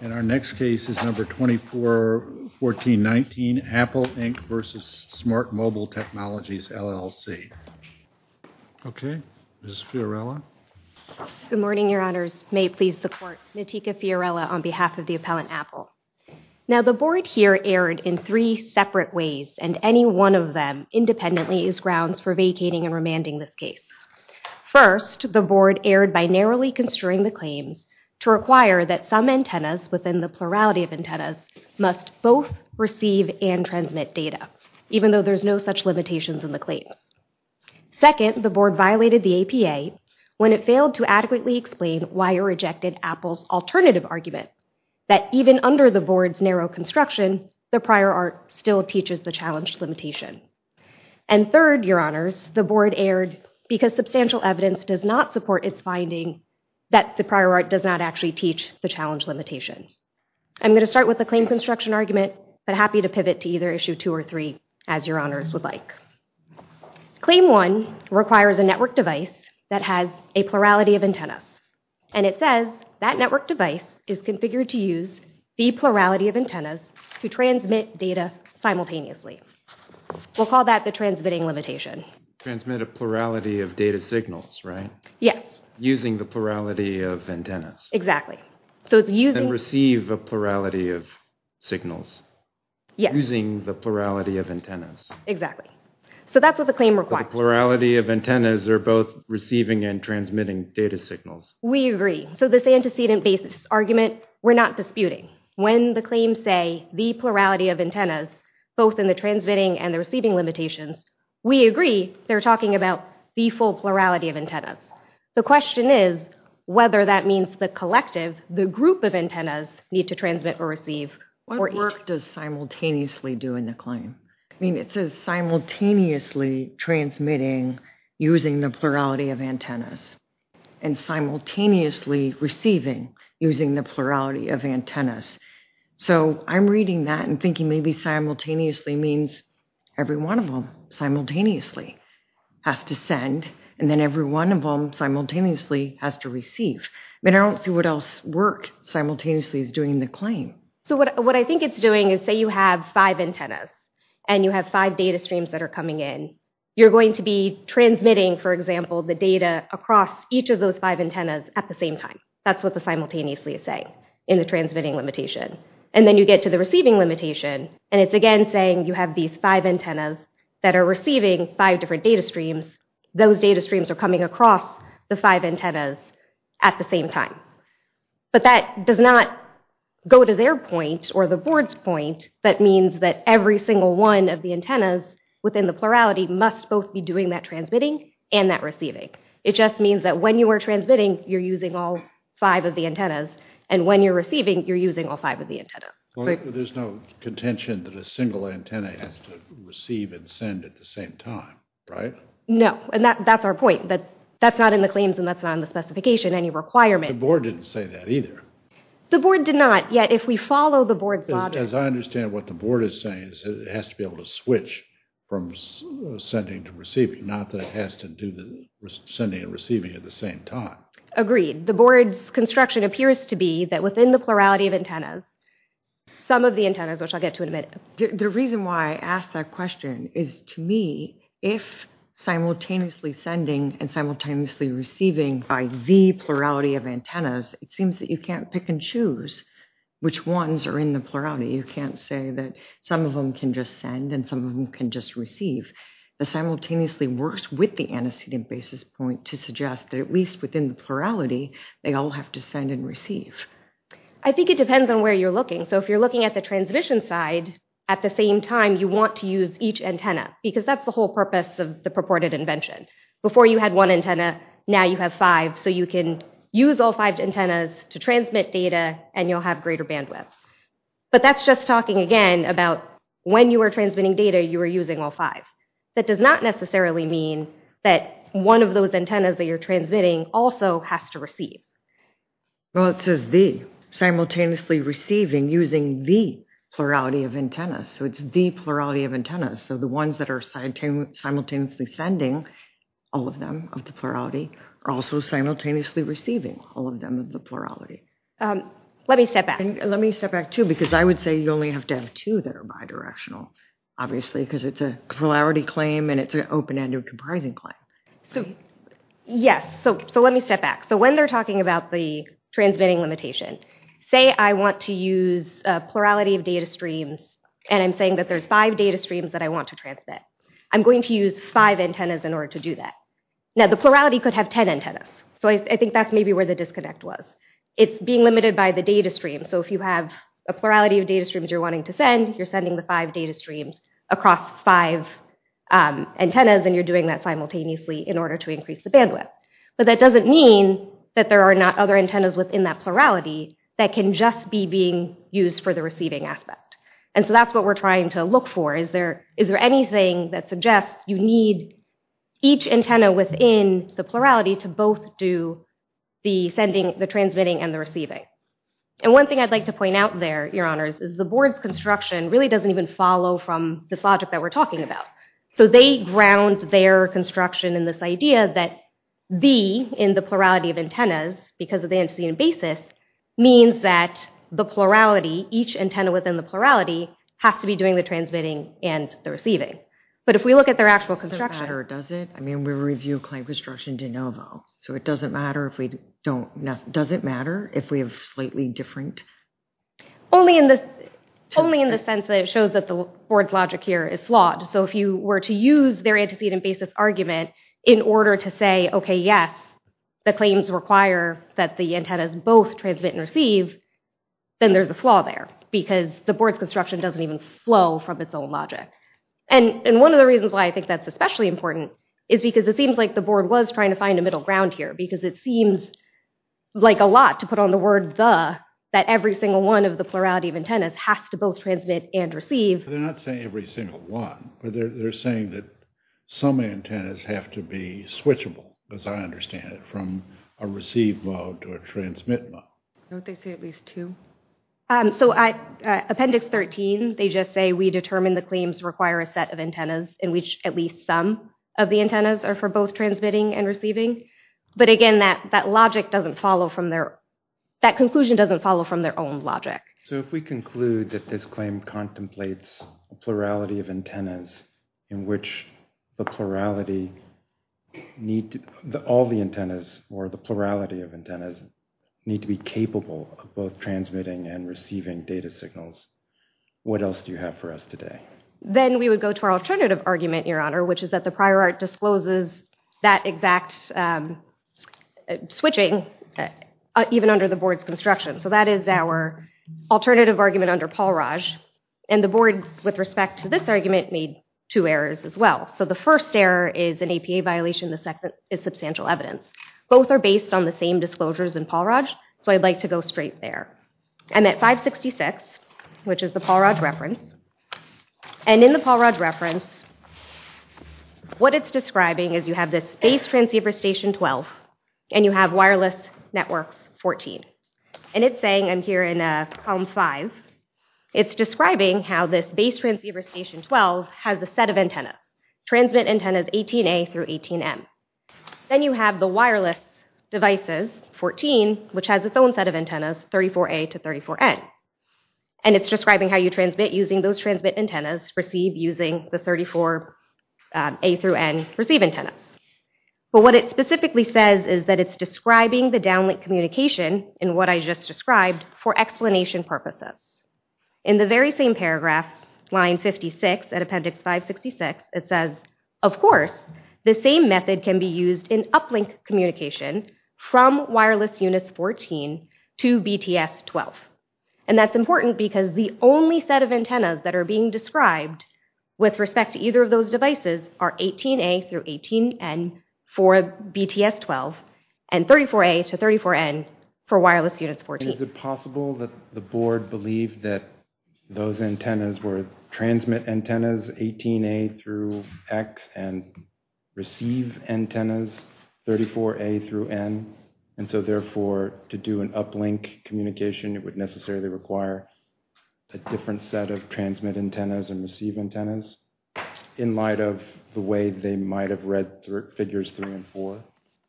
and our next case is number 241419 Apple Inc. v. Smart Mobile Technologies LLC. Okay, Ms. Fiorella. Good morning, your honors. May it please the court. Natika Fiorella on behalf of the appellant Apple. Now the board here erred in three separate ways and any one of them independently is grounds for vacating and remanding this case. First, the board erred by narrowly construing the claims to require that some antennas within the plurality of antennas must both receive and transmit data, even though there's no such limitations in the claim. Second, the board violated the APA when it failed to adequately explain why it rejected Apple's alternative argument that even under the board's narrow construction, the prior art still teaches the challenged limitation. And third, your honors, the board erred because substantial evidence does not support its finding that the prior art does not actually teach the challenge limitation. I'm going to start with the claim construction argument, but happy to pivot to either issue two or three as your honors would like. Claim one requires a network device that has a plurality of antennas and it says that network device is configured to use the plurality of antennas to transmit data simultaneously. We'll call that the transmitting limitation. Transmit a plurality of data signals, right? Yes. Using the plurality of antennas. Exactly. And receive a plurality of signals. Using the plurality of antennas. Exactly. So that's what the claim requires. The plurality of antennas are both receiving and transmitting data signals. We agree. So this antecedent basis argument, we're not disputing. When the claims say the plurality of antennas, both in the transmitting and the receiving limitations, we agree they're talking about the full plurality of antennas. The question is whether that means the collective, the group of antennas need to transmit or receive. What work does simultaneously do in the claim? I mean, it says simultaneously transmitting using the plurality of antennas and simultaneously receiving using the plurality of antennas. So I'm reading that and thinking maybe simultaneously means every one of them simultaneously has to send and then every one of them simultaneously has to receive. But I don't see what else work simultaneously is doing in the claim. So what I think it's doing is say you have five antennas and you have five data streams that are coming in. You're going to be transmitting, for example, the data across each of those five antennas at the same time. That's what the simultaneously is saying in the transmitting limitation. And then you get to the receiving limitation and it's again saying you have these five antennas that are receiving five different data streams. Those data streams are coming across the five antennas at the same time. But that does not go to their point or the board's point that means that every single one of the antennas within the plurality must both be doing that transmitting and that receiving. It just means that when you are transmitting, you're using all five of the antennas and when you're receiving, you're using all five of the antennas. There's no contention that a single antenna has to receive and send at the same time, right? No, and that's our point that that's not in the claims and that's not in the specification, any requirement. The board didn't say that either. The board did not, yet if we follow the board's logic. As I understand what the board is saying is it has to be able to switch from sending to receiving, not that it has to do the sending and receiving at the same time. Agreed. The board's construction appears to be that within the plurality of antennas, some of the antennas, which I'll get to in a minute. The reason why I asked that question is to me, if simultaneously sending and simultaneously receiving by the plurality of antennas, it seems that you can't pick and choose which ones are in the plurality. You can't say that some of them can just send and some of them can just receive. The simultaneously works with the antecedent basis point to suggest that at least within the plurality, they all have to send and receive. I think it depends on where you're looking. So if you're looking at the transmission side, at the same time, you want to use each antenna because that's the whole purpose of the purported invention. Before you had one antenna, now you have five. So you can use all five antennas to transmit data and you'll have greater bandwidth. But that's just talking again about when you were transmitting data, you were using all five. That does not necessarily mean that one of those antennas that you're transmitting also has to receive. Well, it says the simultaneously receiving using the plurality of antennas. So it's the plurality of antennas. So the ones that are simultaneously sending, all of them of the plurality, are also simultaneously receiving, all of them of the plurality. Let me step back. Let me step back, too, because I would say you only have to have two that are bidirectional, obviously, because it's a polarity claim and it's an open-ended comprising claim. So, yes, so let me step back. So when they're talking about the transmitting limitation, say I want to use a plurality of data streams and I'm saying that there's five data streams that I want to transmit, I'm going to use five antennas in order to do that. Now, the plurality could have 10 antennas. So I think that's maybe where the disconnect was. It's being limited by the data stream. So if you have a plurality of data streams you're wanting to send, you're sending the five data streams across five antennas and you're doing that simultaneously in order to increase the bandwidth. But that doesn't mean that there are not other antennas within that plurality that can just be being used for the receiving aspect. And so that's what we're trying to look for, is there anything that suggests you need each antenna within the plurality to both do the transmitting and the receiving. And one thing I'd like to point out there, your honors, is the board's construction really doesn't even follow from this logic that we're talking about. So they ground their construction in this idea that the, in the plurality of antennas, because of the antigen basis, means that the plurality, each antenna within the plurality, has to be doing the transmitting and the receiving. But if we look at their actual construction- It doesn't matter, does it? I mean, we review client construction de novo. So it doesn't matter if we don't, does it matter if we have slightly different? Only in the sense that it shows that the board's logic here is flawed. So if you were to use their antecedent basis argument in order to say, okay, yes, the claims require that the antennas both transmit and receive, then there's a flaw there because the board's construction doesn't even flow from its own logic. And one of the reasons why I think that's especially important is because it seems like the board was trying to find a middle ground here because it seems like a lot to put on the word the, that every single one of the plurality of antennas has to both transmit and receive. They're not saying every single one, but they're saying that some antennas have to be switchable, as I understand it, from a receive mode to a transmit mode. Don't they say at least two? So appendix 13, they just say, we determine the claims require a set of antennas in which at least some of the antennas are for both transmitting and receiving. But again, that logic doesn't follow from their, that conclusion doesn't follow from their own logic. So if we conclude that this claim contemplates a plurality of antennas in which the plurality need, all the antennas or the plurality of antennas need to be capable of both transmitting and receiving data signals, what else do you have for us today? Then we would go to our alternative argument, Your Honor, which is that the prior art discloses that exact switching even under the board's construction. So that is our alternative argument under Paul Raj. And the board, with respect to this argument, made two errors as well. So the first error is an APA violation. The second is substantial evidence. Both are based on the same disclosures in Paul Raj, so I'd like to go straight there. I'm at 566, which is the Paul Raj reference. And in the Paul Raj reference, what it's describing is you have this Base Transceiver Station 12 and you have Wireless Networks 14. And it's saying, I'm here in Column 5, it's describing how this Base Transceiver Station 12 has a set of antennas, transmit antennas 18A through 18M. Then you have the Wireless Devices 14, which has its own set of antennas, 34A to 34N. And it's describing how you transmit using those transmit antennas received using the 34A through N receive antennas. But what it specifically says is that it's describing the downlink communication in what I just described for explanation purposes. In the very same paragraph, line 56, at Appendix 566, it says, of course, the same method can be used in uplink communication from Wireless Units 14 to BTS-12. And that's important because the only set of antennas that are being described with respect to either of those devices are 18A through 18N for BTS-12 and 34A to 34N for Wireless Units 14. Is it possible that the board believed that those antennas were transmit antennas 18A through X and receive antennas 34A through N? And so therefore, to do an uplink communication, it would necessarily require a different set of transmit antennas and receive antennas in light of the way they might've read figures three and four?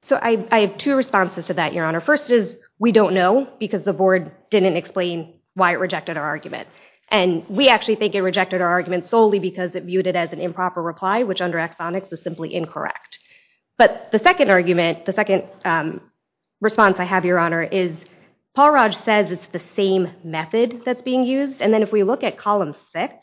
So I have two responses to that, Your Honor. First is we don't know because the board didn't explain why it rejected our argument. And we actually think it rejected our argument solely because it viewed it as an improper reply, which under axonics is simply incorrect. But the second argument, the second response I have, Your Honor, is Paul Raj says it's the same method that's being used. And then if we look at column six,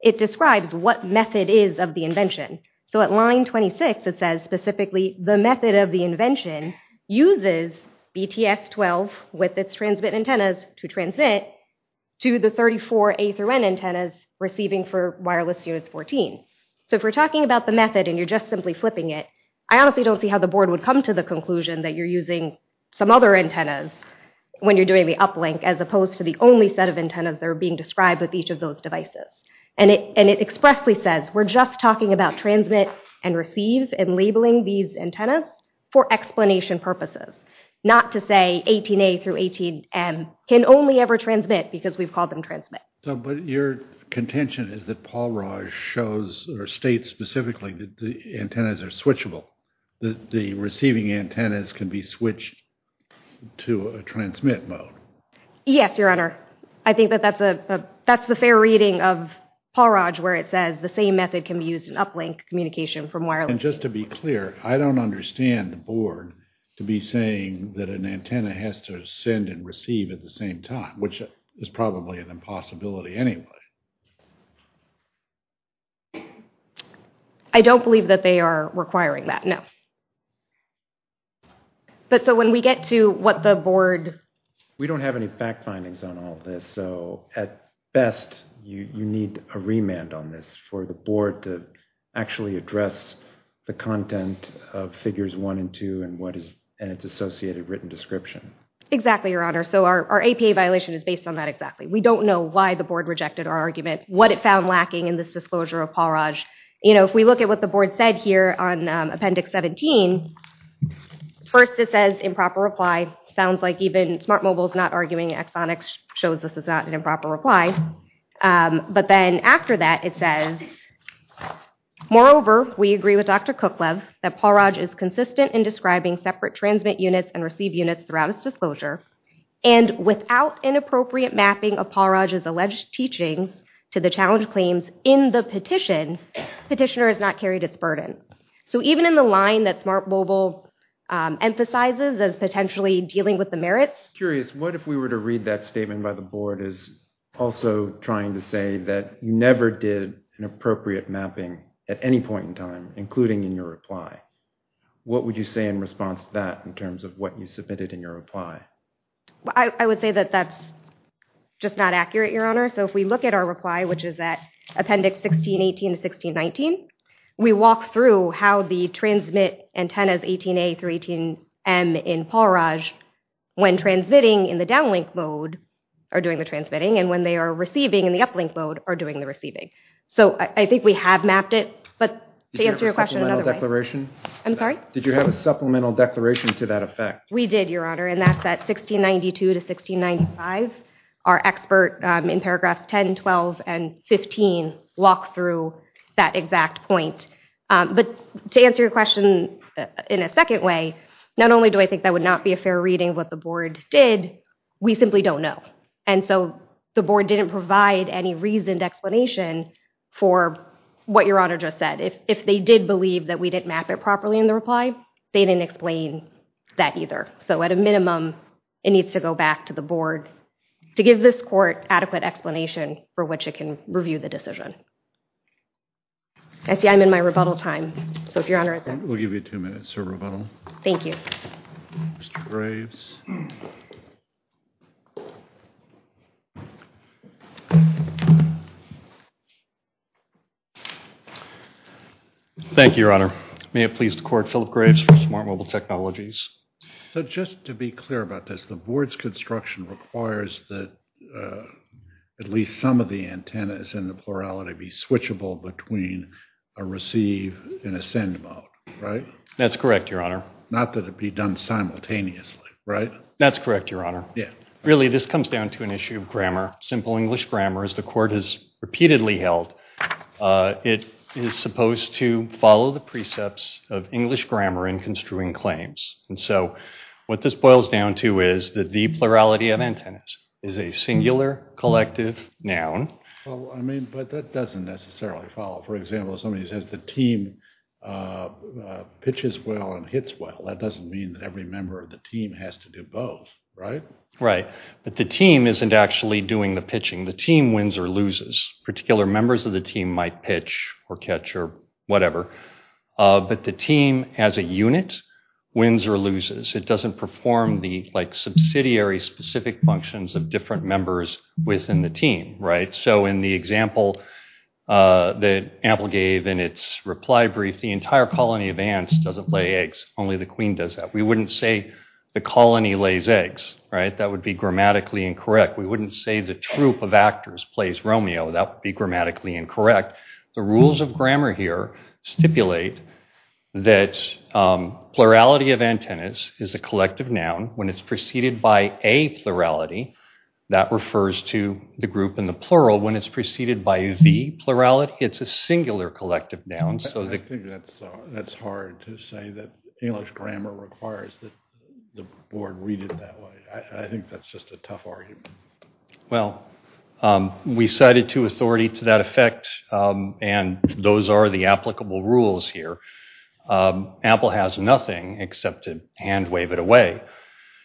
it describes what method is of the invention. So at line 26, it says specifically the method of the invention uses BTS-12 with its transmit antennas to transmit to the 34A through N antennas receiving for wireless units 14. So if we're talking about the method and you're just simply flipping it, I honestly don't see how the board would come to the conclusion that you're using some other antennas when you're doing the uplink, as opposed to the only set of antennas that are being described with each of those devices. And it expressly says we're just talking about transmit and receive and labeling these antennas for explanation purposes, not to say 18A through 18N can only ever transmit because we've called them transmit. But your contention is that Paul Raj shows or states specifically that the antennas are switchable, that the receiving antennas can be switched to a transmit mode. Yes, Your Honor. I think that that's the fair reading of Paul Raj where it says the same method can be used in uplink communication from wireless. And just to be clear, I don't understand the board to be saying that an antenna has to send and receive at the same time, which is probably an impossibility anyway. I don't believe that they are requiring that, no. But so when we get to what the board... We don't have any fact findings on all this. So at best, you need a remand on this for the board to actually address the content of figures one and two and its associated written description. Exactly, Your Honor. So our APA violation is based on that exactly. We don't know why the board rejected our argument, what it found lacking in this disclosure of Paul Raj. You know, if we look at what the board said here on Appendix 17, first it says improper reply. Sounds like even Smart Mobile's not arguing. Exonix shows this is not an improper reply. But then after that, it says, moreover, we agree with Dr. Kuklev that Paul Raj is consistent in describing separate transmit units and receive units throughout his disclosure. And without an appropriate mapping of Paul Raj's alleged teachings to the challenge claims in the petition, petitioner has not carried its burden. So even in the line that Smart Mobile emphasizes as potentially dealing with the merits. Curious, what if we were to read that statement by the board as also trying to say that you never did an appropriate mapping at any point in time, including in your reply? What would you say in response to that in terms of what you submitted in your reply? I would say that that's just not accurate, Your Honor. So if we look at our reply, which is that Appendix 1618 to 1619, we walk through how the transmit antennas 18A through 18M in Paul Raj, when transmitting in the downlink mode, are doing the transmitting, and when they are receiving in the uplink mode, are doing the receiving. So I think we have mapped it, but to answer your question another way. Did you have a supplemental declaration? We did, Your Honor, and that's at 1692 to 1695. Our expert in paragraphs 10, 12, and 15 walk through that exact point. But to answer your question in a second way, not only do I think that would not be a fair reading of what the board did, we simply don't know. And so the board didn't provide any reasoned explanation for what Your Honor just said. If they did believe that we didn't map it properly in the reply, they didn't explain that either. So at a minimum, it needs to go back to the board to give this court adequate explanation for which it can review the decision. I see I'm in my rebuttal time, so if Your Honor is there. We'll give you two minutes for rebuttal. Thank you. Mr. Graves. Thank you, Your Honor. May it please the court, Philip Graves from Smart Mobile Technologies. So just to be clear about this, the board's construction requires that at least some of the antennas in the plurality be switchable between a receive and a send mode, right? That's correct, Your Honor. Not that it be done simultaneously, right? That's correct, Your Honor. Really, this comes down to an issue of grammar, simple English grammar. As the court has repeatedly held, it is supposed to follow the precepts of English grammar in construing claims. And so what this boils down to is that the plurality of antennas is a singular collective noun. Well, I mean, but that doesn't necessarily follow. For example, if somebody says the team pitches well and hits well, that doesn't mean that every member of the team has to do both, right? Right, but the team isn't actually doing the pitching. The team wins or loses. Particular members of the team might pitch or catch or whatever, but the team as a unit wins or loses. It doesn't perform the subsidiary specific functions of different members within the team, right? So in the example that Apple gave in its reply brief, the entire colony of ants doesn't lay eggs. Only the queen does that. We wouldn't say the colony lays eggs, right? That would be grammatically incorrect. We wouldn't say the troop of actors plays Romeo. That would be grammatically incorrect. The rules of grammar here stipulate that plurality of antennas is a collective noun. When it's preceded by a plurality, that refers to the group in the plural. When it's preceded by the plurality, it's a singular collective noun. I think that's hard to say that English grammar requires the board read it that way. I think that's just a tough argument. Well, we cited to authority to that effect and those are the applicable rules here. Apple has nothing except to hand wave it away.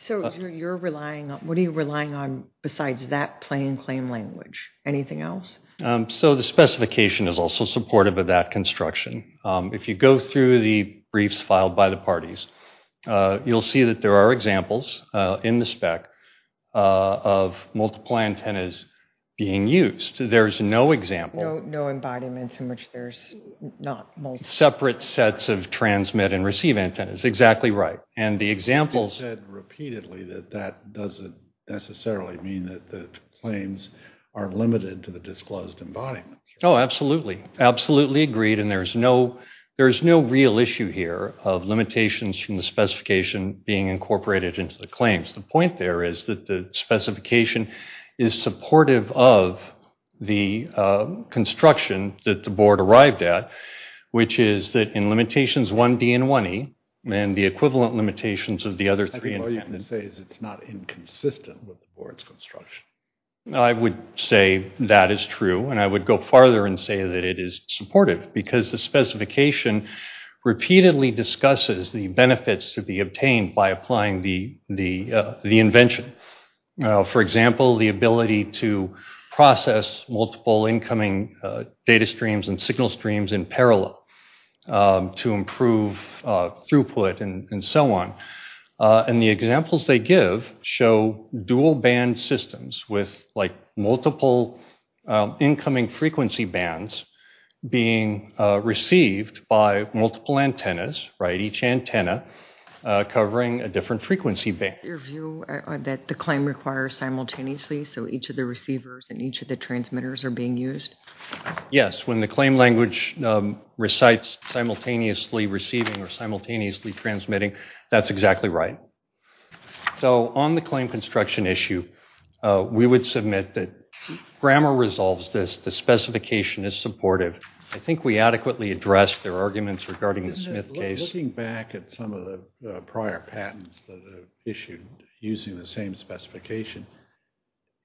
So what are you relying on besides that plain claim language? Anything else? So the specification is also supportive of that construction. If you go through the briefs filed by the parties, you'll see that there are examples in the spec of multiply antennas being used. There's no example. No embodiments in which there's not multiple. Separate sets of transmit and receive antennas. Exactly right. And the examples- You said repeatedly that that doesn't necessarily mean that the claims are limited to the disclosed embodiments. Oh, absolutely. Absolutely agreed. And there's no real issue here of limitations from the specification being incorporated into the claims. The point there is that the specification is supportive of the construction that the board arrived at, which is that in limitations 1D and 1E and the equivalent limitations of the other three- I think all you can say is it's not inconsistent with the board's construction. I would say that is true and I would go farther and say that it is supportive because the specification repeatedly discusses the benefits to be obtained by applying the invention. For example, the ability to process multiple incoming data streams and signal streams in parallel to improve throughput and so on. And the examples they give show dual band systems with multiple incoming frequency bands being received by multiple antennas, right? Each antenna covering a different frequency band. Your view that the claim requires simultaneously so each of the receivers and each of the transmitters are being used? Yes, when the claim language recites simultaneously receiving or simultaneously transmitting, that's exactly right. So on the claim construction issue, we would submit that grammar resolves this, the specification is supportive. I think we adequately addressed their arguments regarding the Smith case. Looking back at some of the prior patents that are issued using the same specification,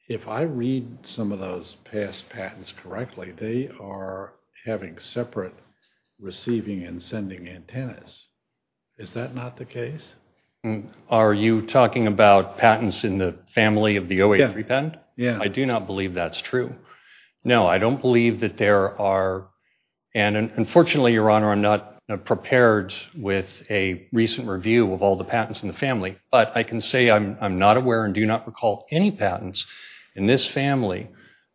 if I read some of those past patents correctly, they are having separate receiving and sending antennas. Is that not the case? Are you talking about patents in the family of the 083 patent? Yeah. I do not believe that's true. No, I don't believe that there are, and unfortunately, your honor, I'm not prepared with a recent review of all the patents in the family, but I can say I'm not aware and do not recall any patents in this family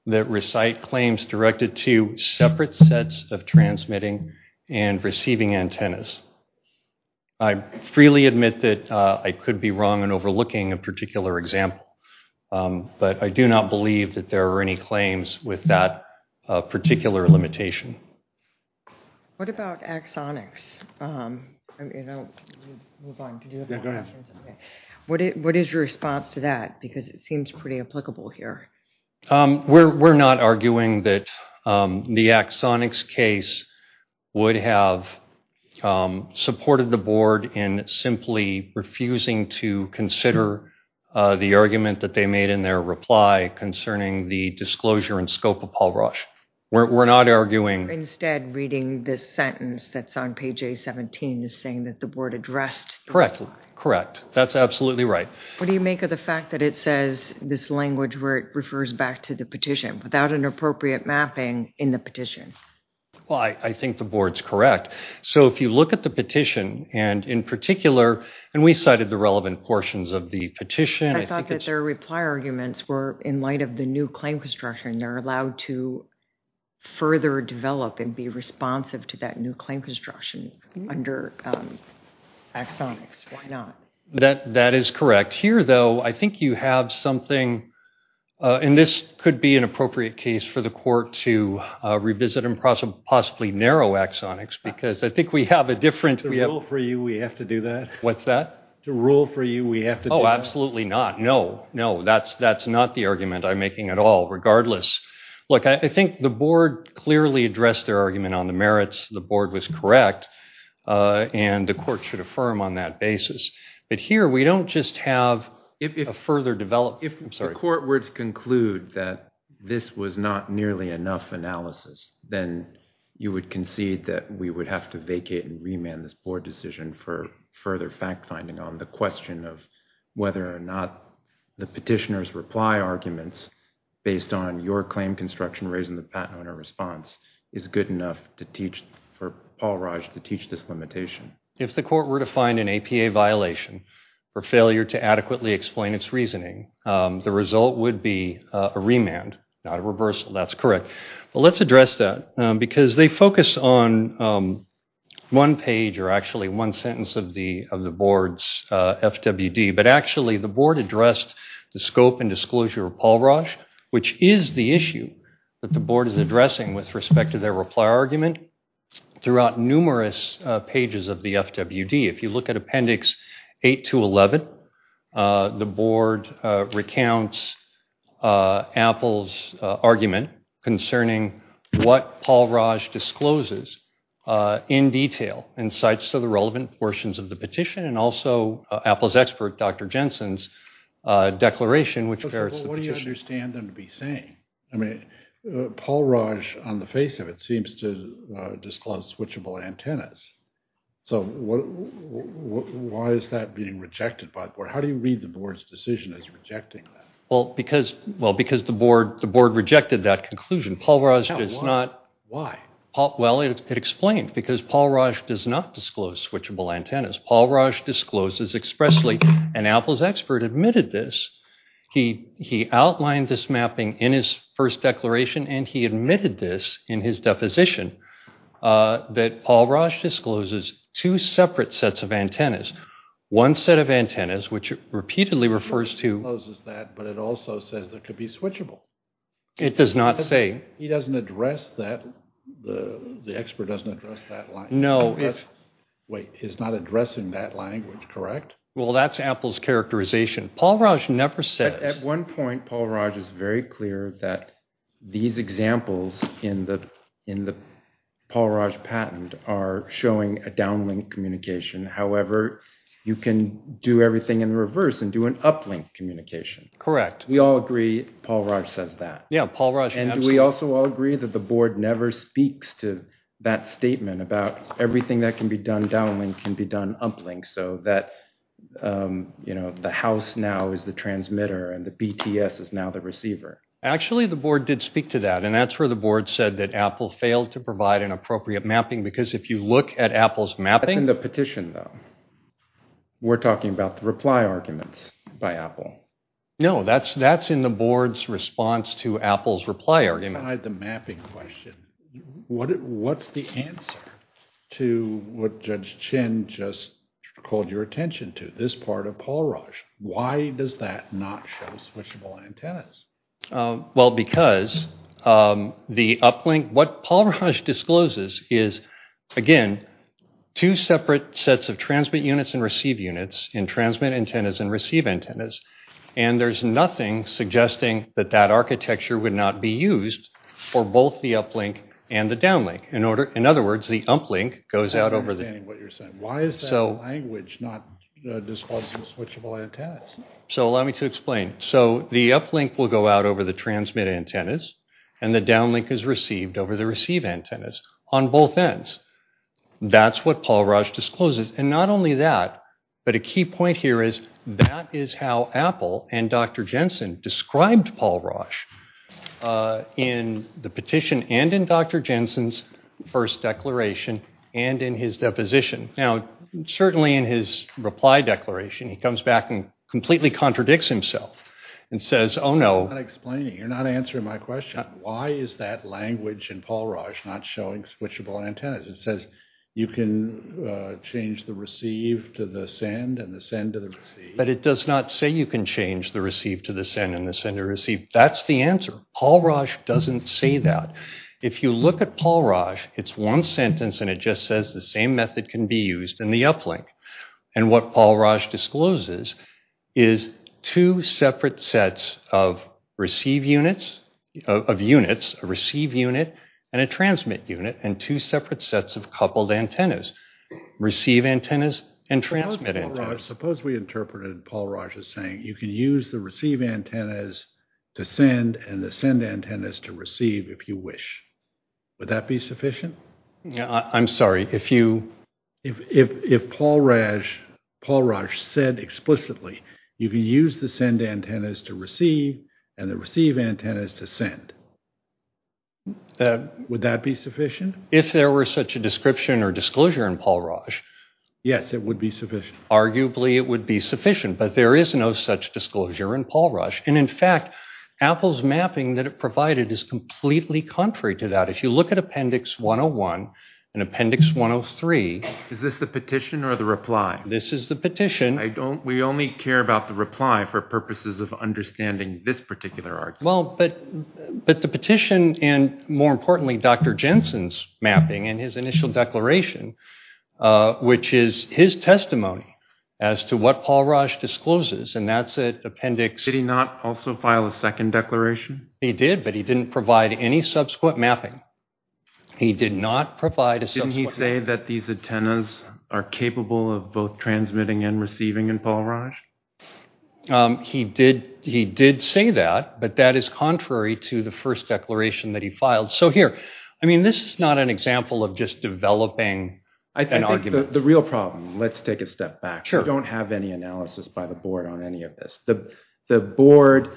that recite claims directed to separate sets of transmitting and receiving antennas. I freely admit that I could be wrong in overlooking a particular example, but I do not believe that there are any claims with that particular limitation. What about Axonics? Move on. Yeah, go ahead. What is your response to that? Because it seems pretty applicable here. We're not arguing that the Axonics case would have supported the board in simply refusing to consider the argument that they made in their reply concerning the disclosure and scope of Paul Rauch. We're not arguing... Instead, reading this sentence that's on page A17 is saying that the board addressed... Correct, correct. That's absolutely right. What do you make of the fact that it says this language where it refers back to the petition without an appropriate mapping in the petition? Well, I think the board's correct. So if you look at the petition, and in particular, and we cited the relevant portions of the petition... I thought that their reply arguments were in light of the new claim construction. They're allowed to further develop and be responsive to that new claim construction under Axonics. That is correct. Here, though, I think you have something, and this could be an appropriate case for the court to revisit and possibly narrow Axonics because I think we have a different... To rule for you, we have to do that. What's that? To rule for you, we have to do that. Oh, absolutely not. No, no, that's not the argument I'm making at all. Regardless, look, I think the board clearly addressed their argument on the merits. The board was correct, and the court should affirm on that basis. But here, we don't just have a further developed... If the court were to conclude that this was not nearly enough analysis, then you would concede that we would have to vacate and remand this board decision for further fact-finding on the question of whether or not the petitioner's reply arguments, based on your claim construction raising the patent owner response, is good enough for Paul Raj to teach this limitation. If the court were to find an APA violation or failure to adequately explain its reasoning, the result would be a remand, not a reversal. That's correct. But let's address that because they focus on one page or actually one sentence of the board's FWD. But actually, the board addressed the scope and disclosure of Paul Raj, which is the issue that the board is addressing with respect to their reply argument throughout numerous pages of the FWD. If you look at Appendix 8 to 11, the board recounts Apple's argument concerning what Paul Raj discloses in detail and cites to the relevant portions of the petition and also Apple's expert, Dr. Jensen's declaration, which ferrets the petition. But what do you understand them to be saying? I mean, Paul Raj, on the face of it, seems to disclose switchable antennas. So why is that being rejected by the board? How do you read the board's decision as rejecting that? Well, because the board rejected that conclusion. Paul Raj does not. Why? Well, it explained because Paul Raj does not disclose switchable antennas. Paul Raj discloses expressly, and Apple's expert admitted this. He outlined this mapping in his first declaration and he admitted this in his deposition that Paul Raj discloses two separate sets of antennas. One set of antennas, which repeatedly refers to- It discloses that, but it also says there could be switchable. It does not say- He doesn't address that. The expert doesn't address that line. No. Wait, he's not addressing that language, correct? Well, that's Apple's characterization. Paul Raj never says- At one point, Paul Raj is very clear that these examples in the Paul Raj patent are showing a downlink communication. However, you can do everything in reverse and do an uplink communication. Correct. We all agree Paul Raj says that. Yeah, Paul Raj- And we also all agree that the board never speaks to that statement about everything that can be done downlink can be done uplink, so that the house now is the transmitter and the BTS is now the receiver. Actually, the board did speak to that and that's where the board said that Apple failed to provide an appropriate mapping because if you look at Apple's mapping- That's in the petition, though. We're talking about the reply arguments by Apple. No, that's in the board's response to Apple's reply argument. I had the mapping question. What's the answer to what Judge Chin just called your attention to, this part of Paul Raj? Why does that not show switchable antennas? Well, because the uplink- What Paul Raj discloses is, again, two separate sets of transmit units and receive units in transmit antennas and receive antennas and there's nothing suggesting that that architecture would not be used for both the uplink and the downlink. In other words, the uplink goes out over the- I'm not understanding what you're saying. Why is that language not disclosing switchable antennas? So, allow me to explain. So, the uplink will go out over the transmit antennas and the downlink is received over the receive antennas on both ends. That's what Paul Raj discloses. And not only that, but a key point here is that is how Apple and Dr. Jensen described Paul Raj in the petition and in Dr. Jensen's first declaration and in his deposition. Now, certainly in his reply declaration, he comes back and completely contradicts himself and says, oh no- I'm not explaining. You're not answering my question. Why is that language in Paul Raj not showing switchable antennas? It says you can change the receive to the send and the send to the receive. But it does not say you can change the receive to the send and the send to receive. That's the answer. Paul Raj doesn't say that. If you look at Paul Raj, it's one sentence and it just says the same method can be used in the uplink. And what Paul Raj discloses is two separate sets of receive units- of units, a receive unit and a transmit unit and two separate sets of coupled antennas- receive antennas and transmit antennas. Suppose we interpreted Paul Raj as saying, you can use the receive antennas to send and the send antennas to receive if you wish. Would that be sufficient? Yeah, I'm sorry. If you- If Paul Raj said explicitly, you can use the send antennas to receive and the receive antennas to send. Would that be sufficient? If there were such a description or disclosure in Paul Raj. Yes, it would be sufficient. Arguably, it would be sufficient. But there is no such disclosure in Paul Raj. And in fact, Apple's mapping that it provided is completely contrary to that. If you look at Appendix 101 and Appendix 103- Is this the petition or the reply? This is the petition. I don't- We only care about the reply for purposes of understanding this particular argument. Well, but the petition and more importantly, Dr. Jensen's mapping and his initial declaration, which is his testimony as to what Paul Raj discloses and that's at Appendix- Did he not also file a second declaration? He did, but he didn't provide any subsequent mapping. He did not provide a subsequent- Didn't he say that these antennas are capable of both transmitting and receiving in Paul Raj? He did say that, but that is contrary to the first declaration that he filed. So here, I mean, this is not an example of just developing an argument. The real problem, let's take a step back. We don't have any analysis by the board on any of this. The board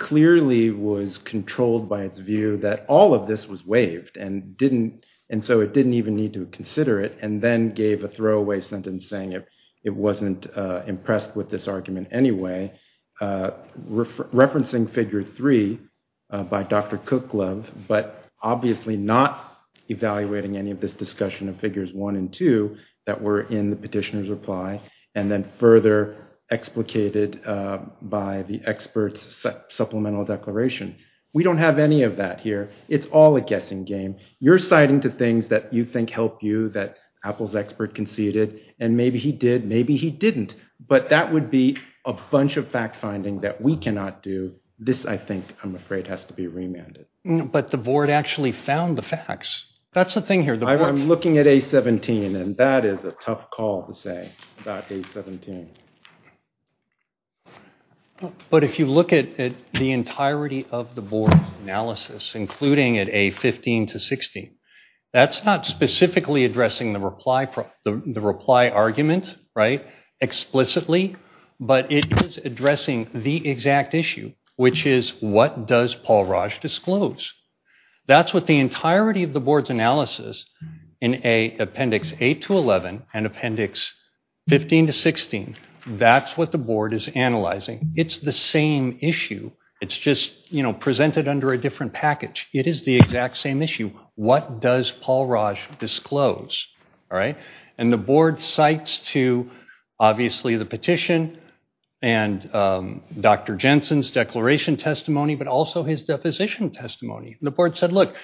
clearly was controlled by its view that all of this was waived and didn't- And so it didn't even need to consider it and then gave a throwaway sentence saying it wasn't impressed with this argument anyway, referencing Figure 3 by Dr. Kuklov, but obviously not evaluating any of this discussion of Figures 1 and 2 that were in the petitioner's reply and then further explicated by the expert's supplemental declaration. We don't have any of that here. It's all a guessing game. You're citing to things that you think help you that Apple's expert conceded and maybe he did, maybe he didn't, but that would be a bunch of fact-finding that we cannot do. This, I think, I'm afraid, has to be remanded. But the board actually found the facts. That's the thing here. I'm looking at A17, and that is a tough call to say about A17. But if you look at the entirety of the board analysis, including at A15 to 16, that's not specifically addressing the reply argument explicitly, but it is addressing the exact issue, which is what does Paul Raj disclose? That's what the entirety of the board's analysis in Appendix 8 to 11 and Appendix 15 to 16, that's what the board is analyzing. It's the same issue. It's just presented under a different package. It is the exact same issue. What does Paul Raj disclose? And the board cites to, obviously, the petition and Dr. Jensen's declaration testimony, but also his deposition testimony. The board said, look,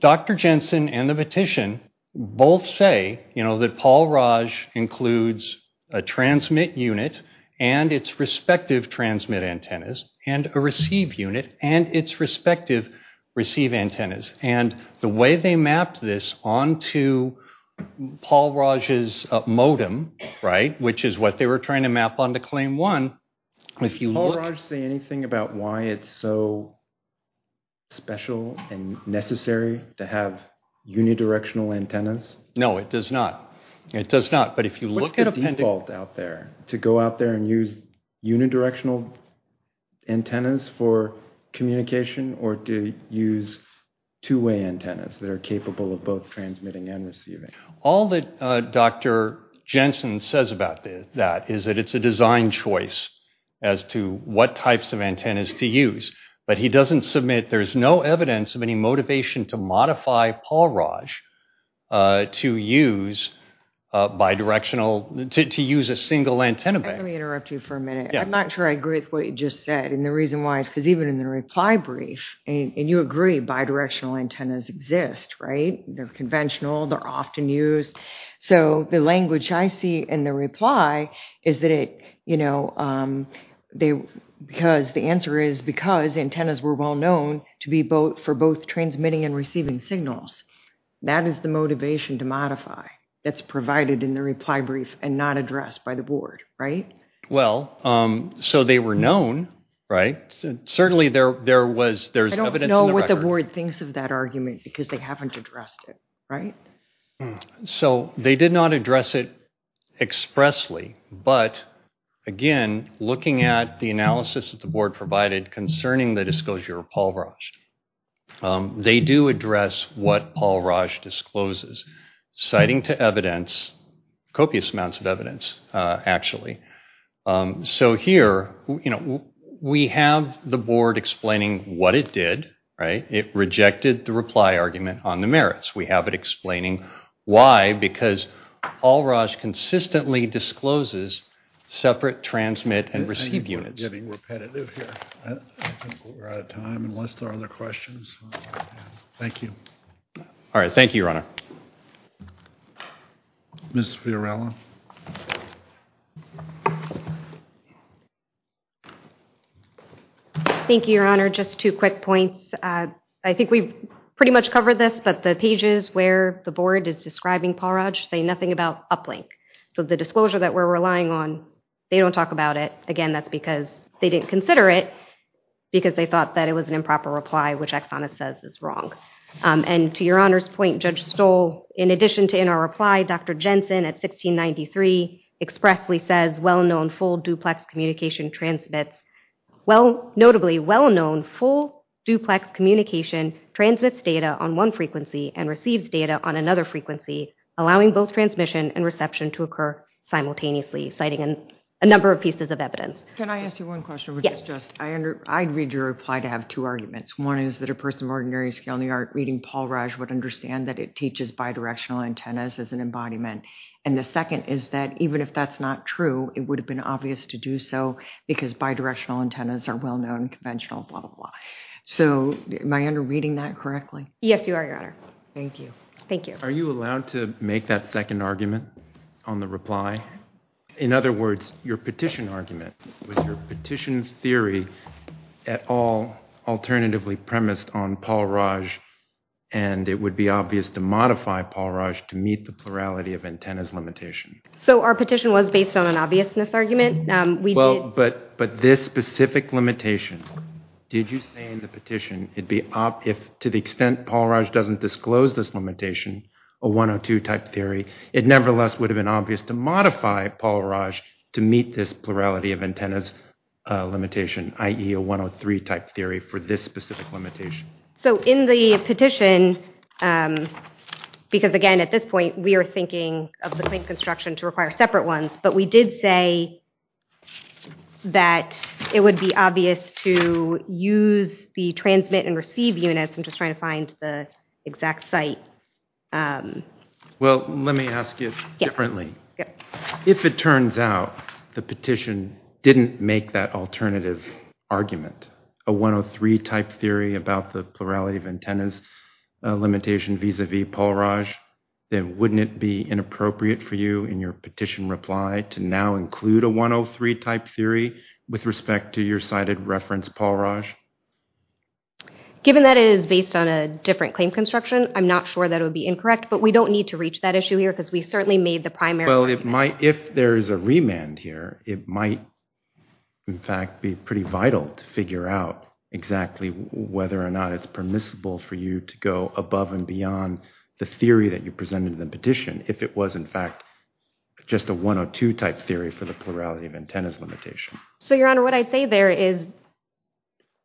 Dr. Jensen and the petition both say that Paul Raj includes a transmit unit and its respective transmit antennas and a receive unit and its respective receive antennas. And the way they mapped this onto Paul Raj's modem, which is what they were trying to map onto Claim 1, if you look- Does Paul Raj say anything about why it's so special and necessary to have unidirectional antennas? No, it does not. It does not, but if you look at Appendix- What's the default out there to go out there and use unidirectional antennas for communication or to use two-way antennas that are capable of both transmitting and receiving? All that Dr. Jensen says about that is that it's a design choice as to what types of antennas to use. But he doesn't submit, there's no evidence of any motivation to modify Paul Raj to use bidirectional, to use a single antenna bank. Let me interrupt you for a minute. I'm not sure I agree with what you just said. And the reason why is because even in the reply brief, and you agree bidirectional antennas exist, right? They're conventional, they're often used. So the language I see in the reply is that it, because the answer is because antennas were well-known to be both for both transmitting and receiving signals. That is the motivation to modify that's provided in the reply brief and not addressed by the board, right? Well, so they were known, right? Certainly there's evidence in the record. I don't know what the board thinks of that argument because they haven't addressed it, right? So they did not address it expressly, but again, looking at the analysis that the board provided concerning the disclosure of Paul Raj, they do address what Paul Raj discloses, citing to evidence, copious amounts of evidence, actually. So here, we have the board explaining what it did, right? It rejected the reply argument on the merits. We have it explaining why, because Paul Raj consistently discloses separate transmit and receive units. I think we're getting repetitive here. I think we're out of time unless there are other questions. Thank you. All right, thank you, Your Honor. Ms. Fiorella. Thank you, Your Honor. Just two quick points. I think we've pretty much covered this, but the pages where the board is describing Paul Raj say nothing about uplink. So the disclosure that we're relying on, they don't talk about it. Again, that's because they didn't consider it because they thought that it was an improper reply, which Exxon says is wrong. And to Your Honor's point, Judge Stoll, in addition to in our reply, Dr. Jensen at 1693 expressly says, well-known full duplex communication transmits, notably well-known full duplex communication transmits data on one frequency and receives data on another frequency, allowing both transmission and reception to occur simultaneously, citing a number of pieces of evidence. Can I ask you one question? Yes. I'd read your reply to have two arguments. One is that a person of ordinary skill in the art reading Paul Raj would understand that it teaches bidirectional antennas as an embodiment. And the second is that even if that's not true, it would have been obvious to do so because bidirectional antennas are well-known, conventional, blah, blah, blah. So am I under reading that correctly? Yes, you are, Your Honor. Thank you. Are you allowed to make that second argument on the reply? In other words, your petition argument, was your petition theory at all alternatively premised on Paul Raj and it would be obvious to modify Paul Raj to meet the plurality of antennas limitation? So our petition was based on an obviousness argument. Well, but this specific limitation, did you say in the petition it'd be, if to the extent Paul Raj doesn't disclose this limitation, a 102 type theory, it nevertheless would have been obvious to modify Paul Raj to meet this plurality of antennas limitation, i.e. a 103 type theory for this specific limitation? So in the petition, because again, at this point, we are thinking of the claim construction to require separate ones, but we did say that it would be obvious to use the transmit and receive units. I'm just trying to find the exact site. Well, let me ask you differently. If it turns out the petition didn't make that alternative argument, a 103 type theory about the plurality of antennas limitation vis-a-vis Paul Raj, then wouldn't it be inappropriate for you in your petition reply to now include a 103 type theory with respect to your cited reference Paul Raj? Given that it is based on a different claim construction, I'm not sure that it would be incorrect, but we don't need to reach that issue here because we certainly made the primary argument. Well, if there is a remand here, it might in fact be pretty vital to figure out exactly whether or not it's permissible for you to go above and beyond the theory that you presented in the petition if it was in fact just a 102 type theory for the plurality of antennas limitation. So Your Honor, what I'd say there is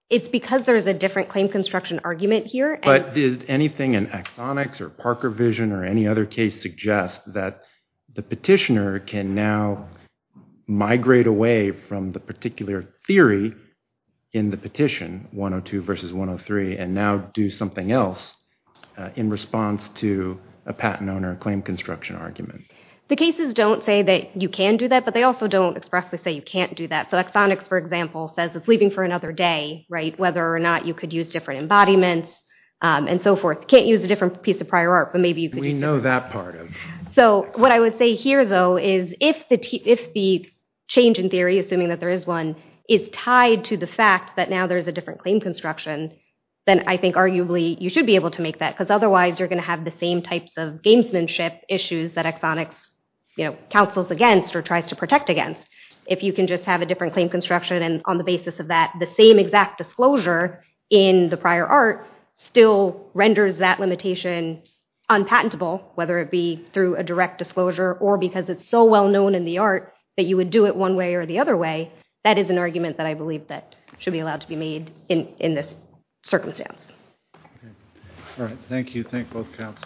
it's because there is a different claim construction argument here. But did anything in Axonix or Parker Vision or any other case suggest that the petitioner can now migrate away from the particular theory in the petition, 102 versus 103, and now do something else in response to a patent owner claim construction argument? The cases don't say that you can do that, but they also don't expressly say you can't do that. So Axonix, for example, says it's leaving for another day, whether or not you could use different embodiments and so forth. Can't use a different piece of prior art, but maybe you could use it. We know that part of it. So what I would say here though is if the change in theory, assuming that there is one, is tied to the fact that now there's a different claim construction, then I think arguably you should be able to make that because otherwise you're going to have the same types of gamesmanship issues that Axonix counsels against or tries to protect against. If you can just have a different claim construction and on the basis of that, the same exact disclosure in the prior art still renders that limitation unpatentable, whether it be through a direct disclosure or because it's so well-known in the art that you would do it one way or the other way, that is an argument that I believe that should be allowed to be made in this circumstance. All right. Thank you. Thank both counsels.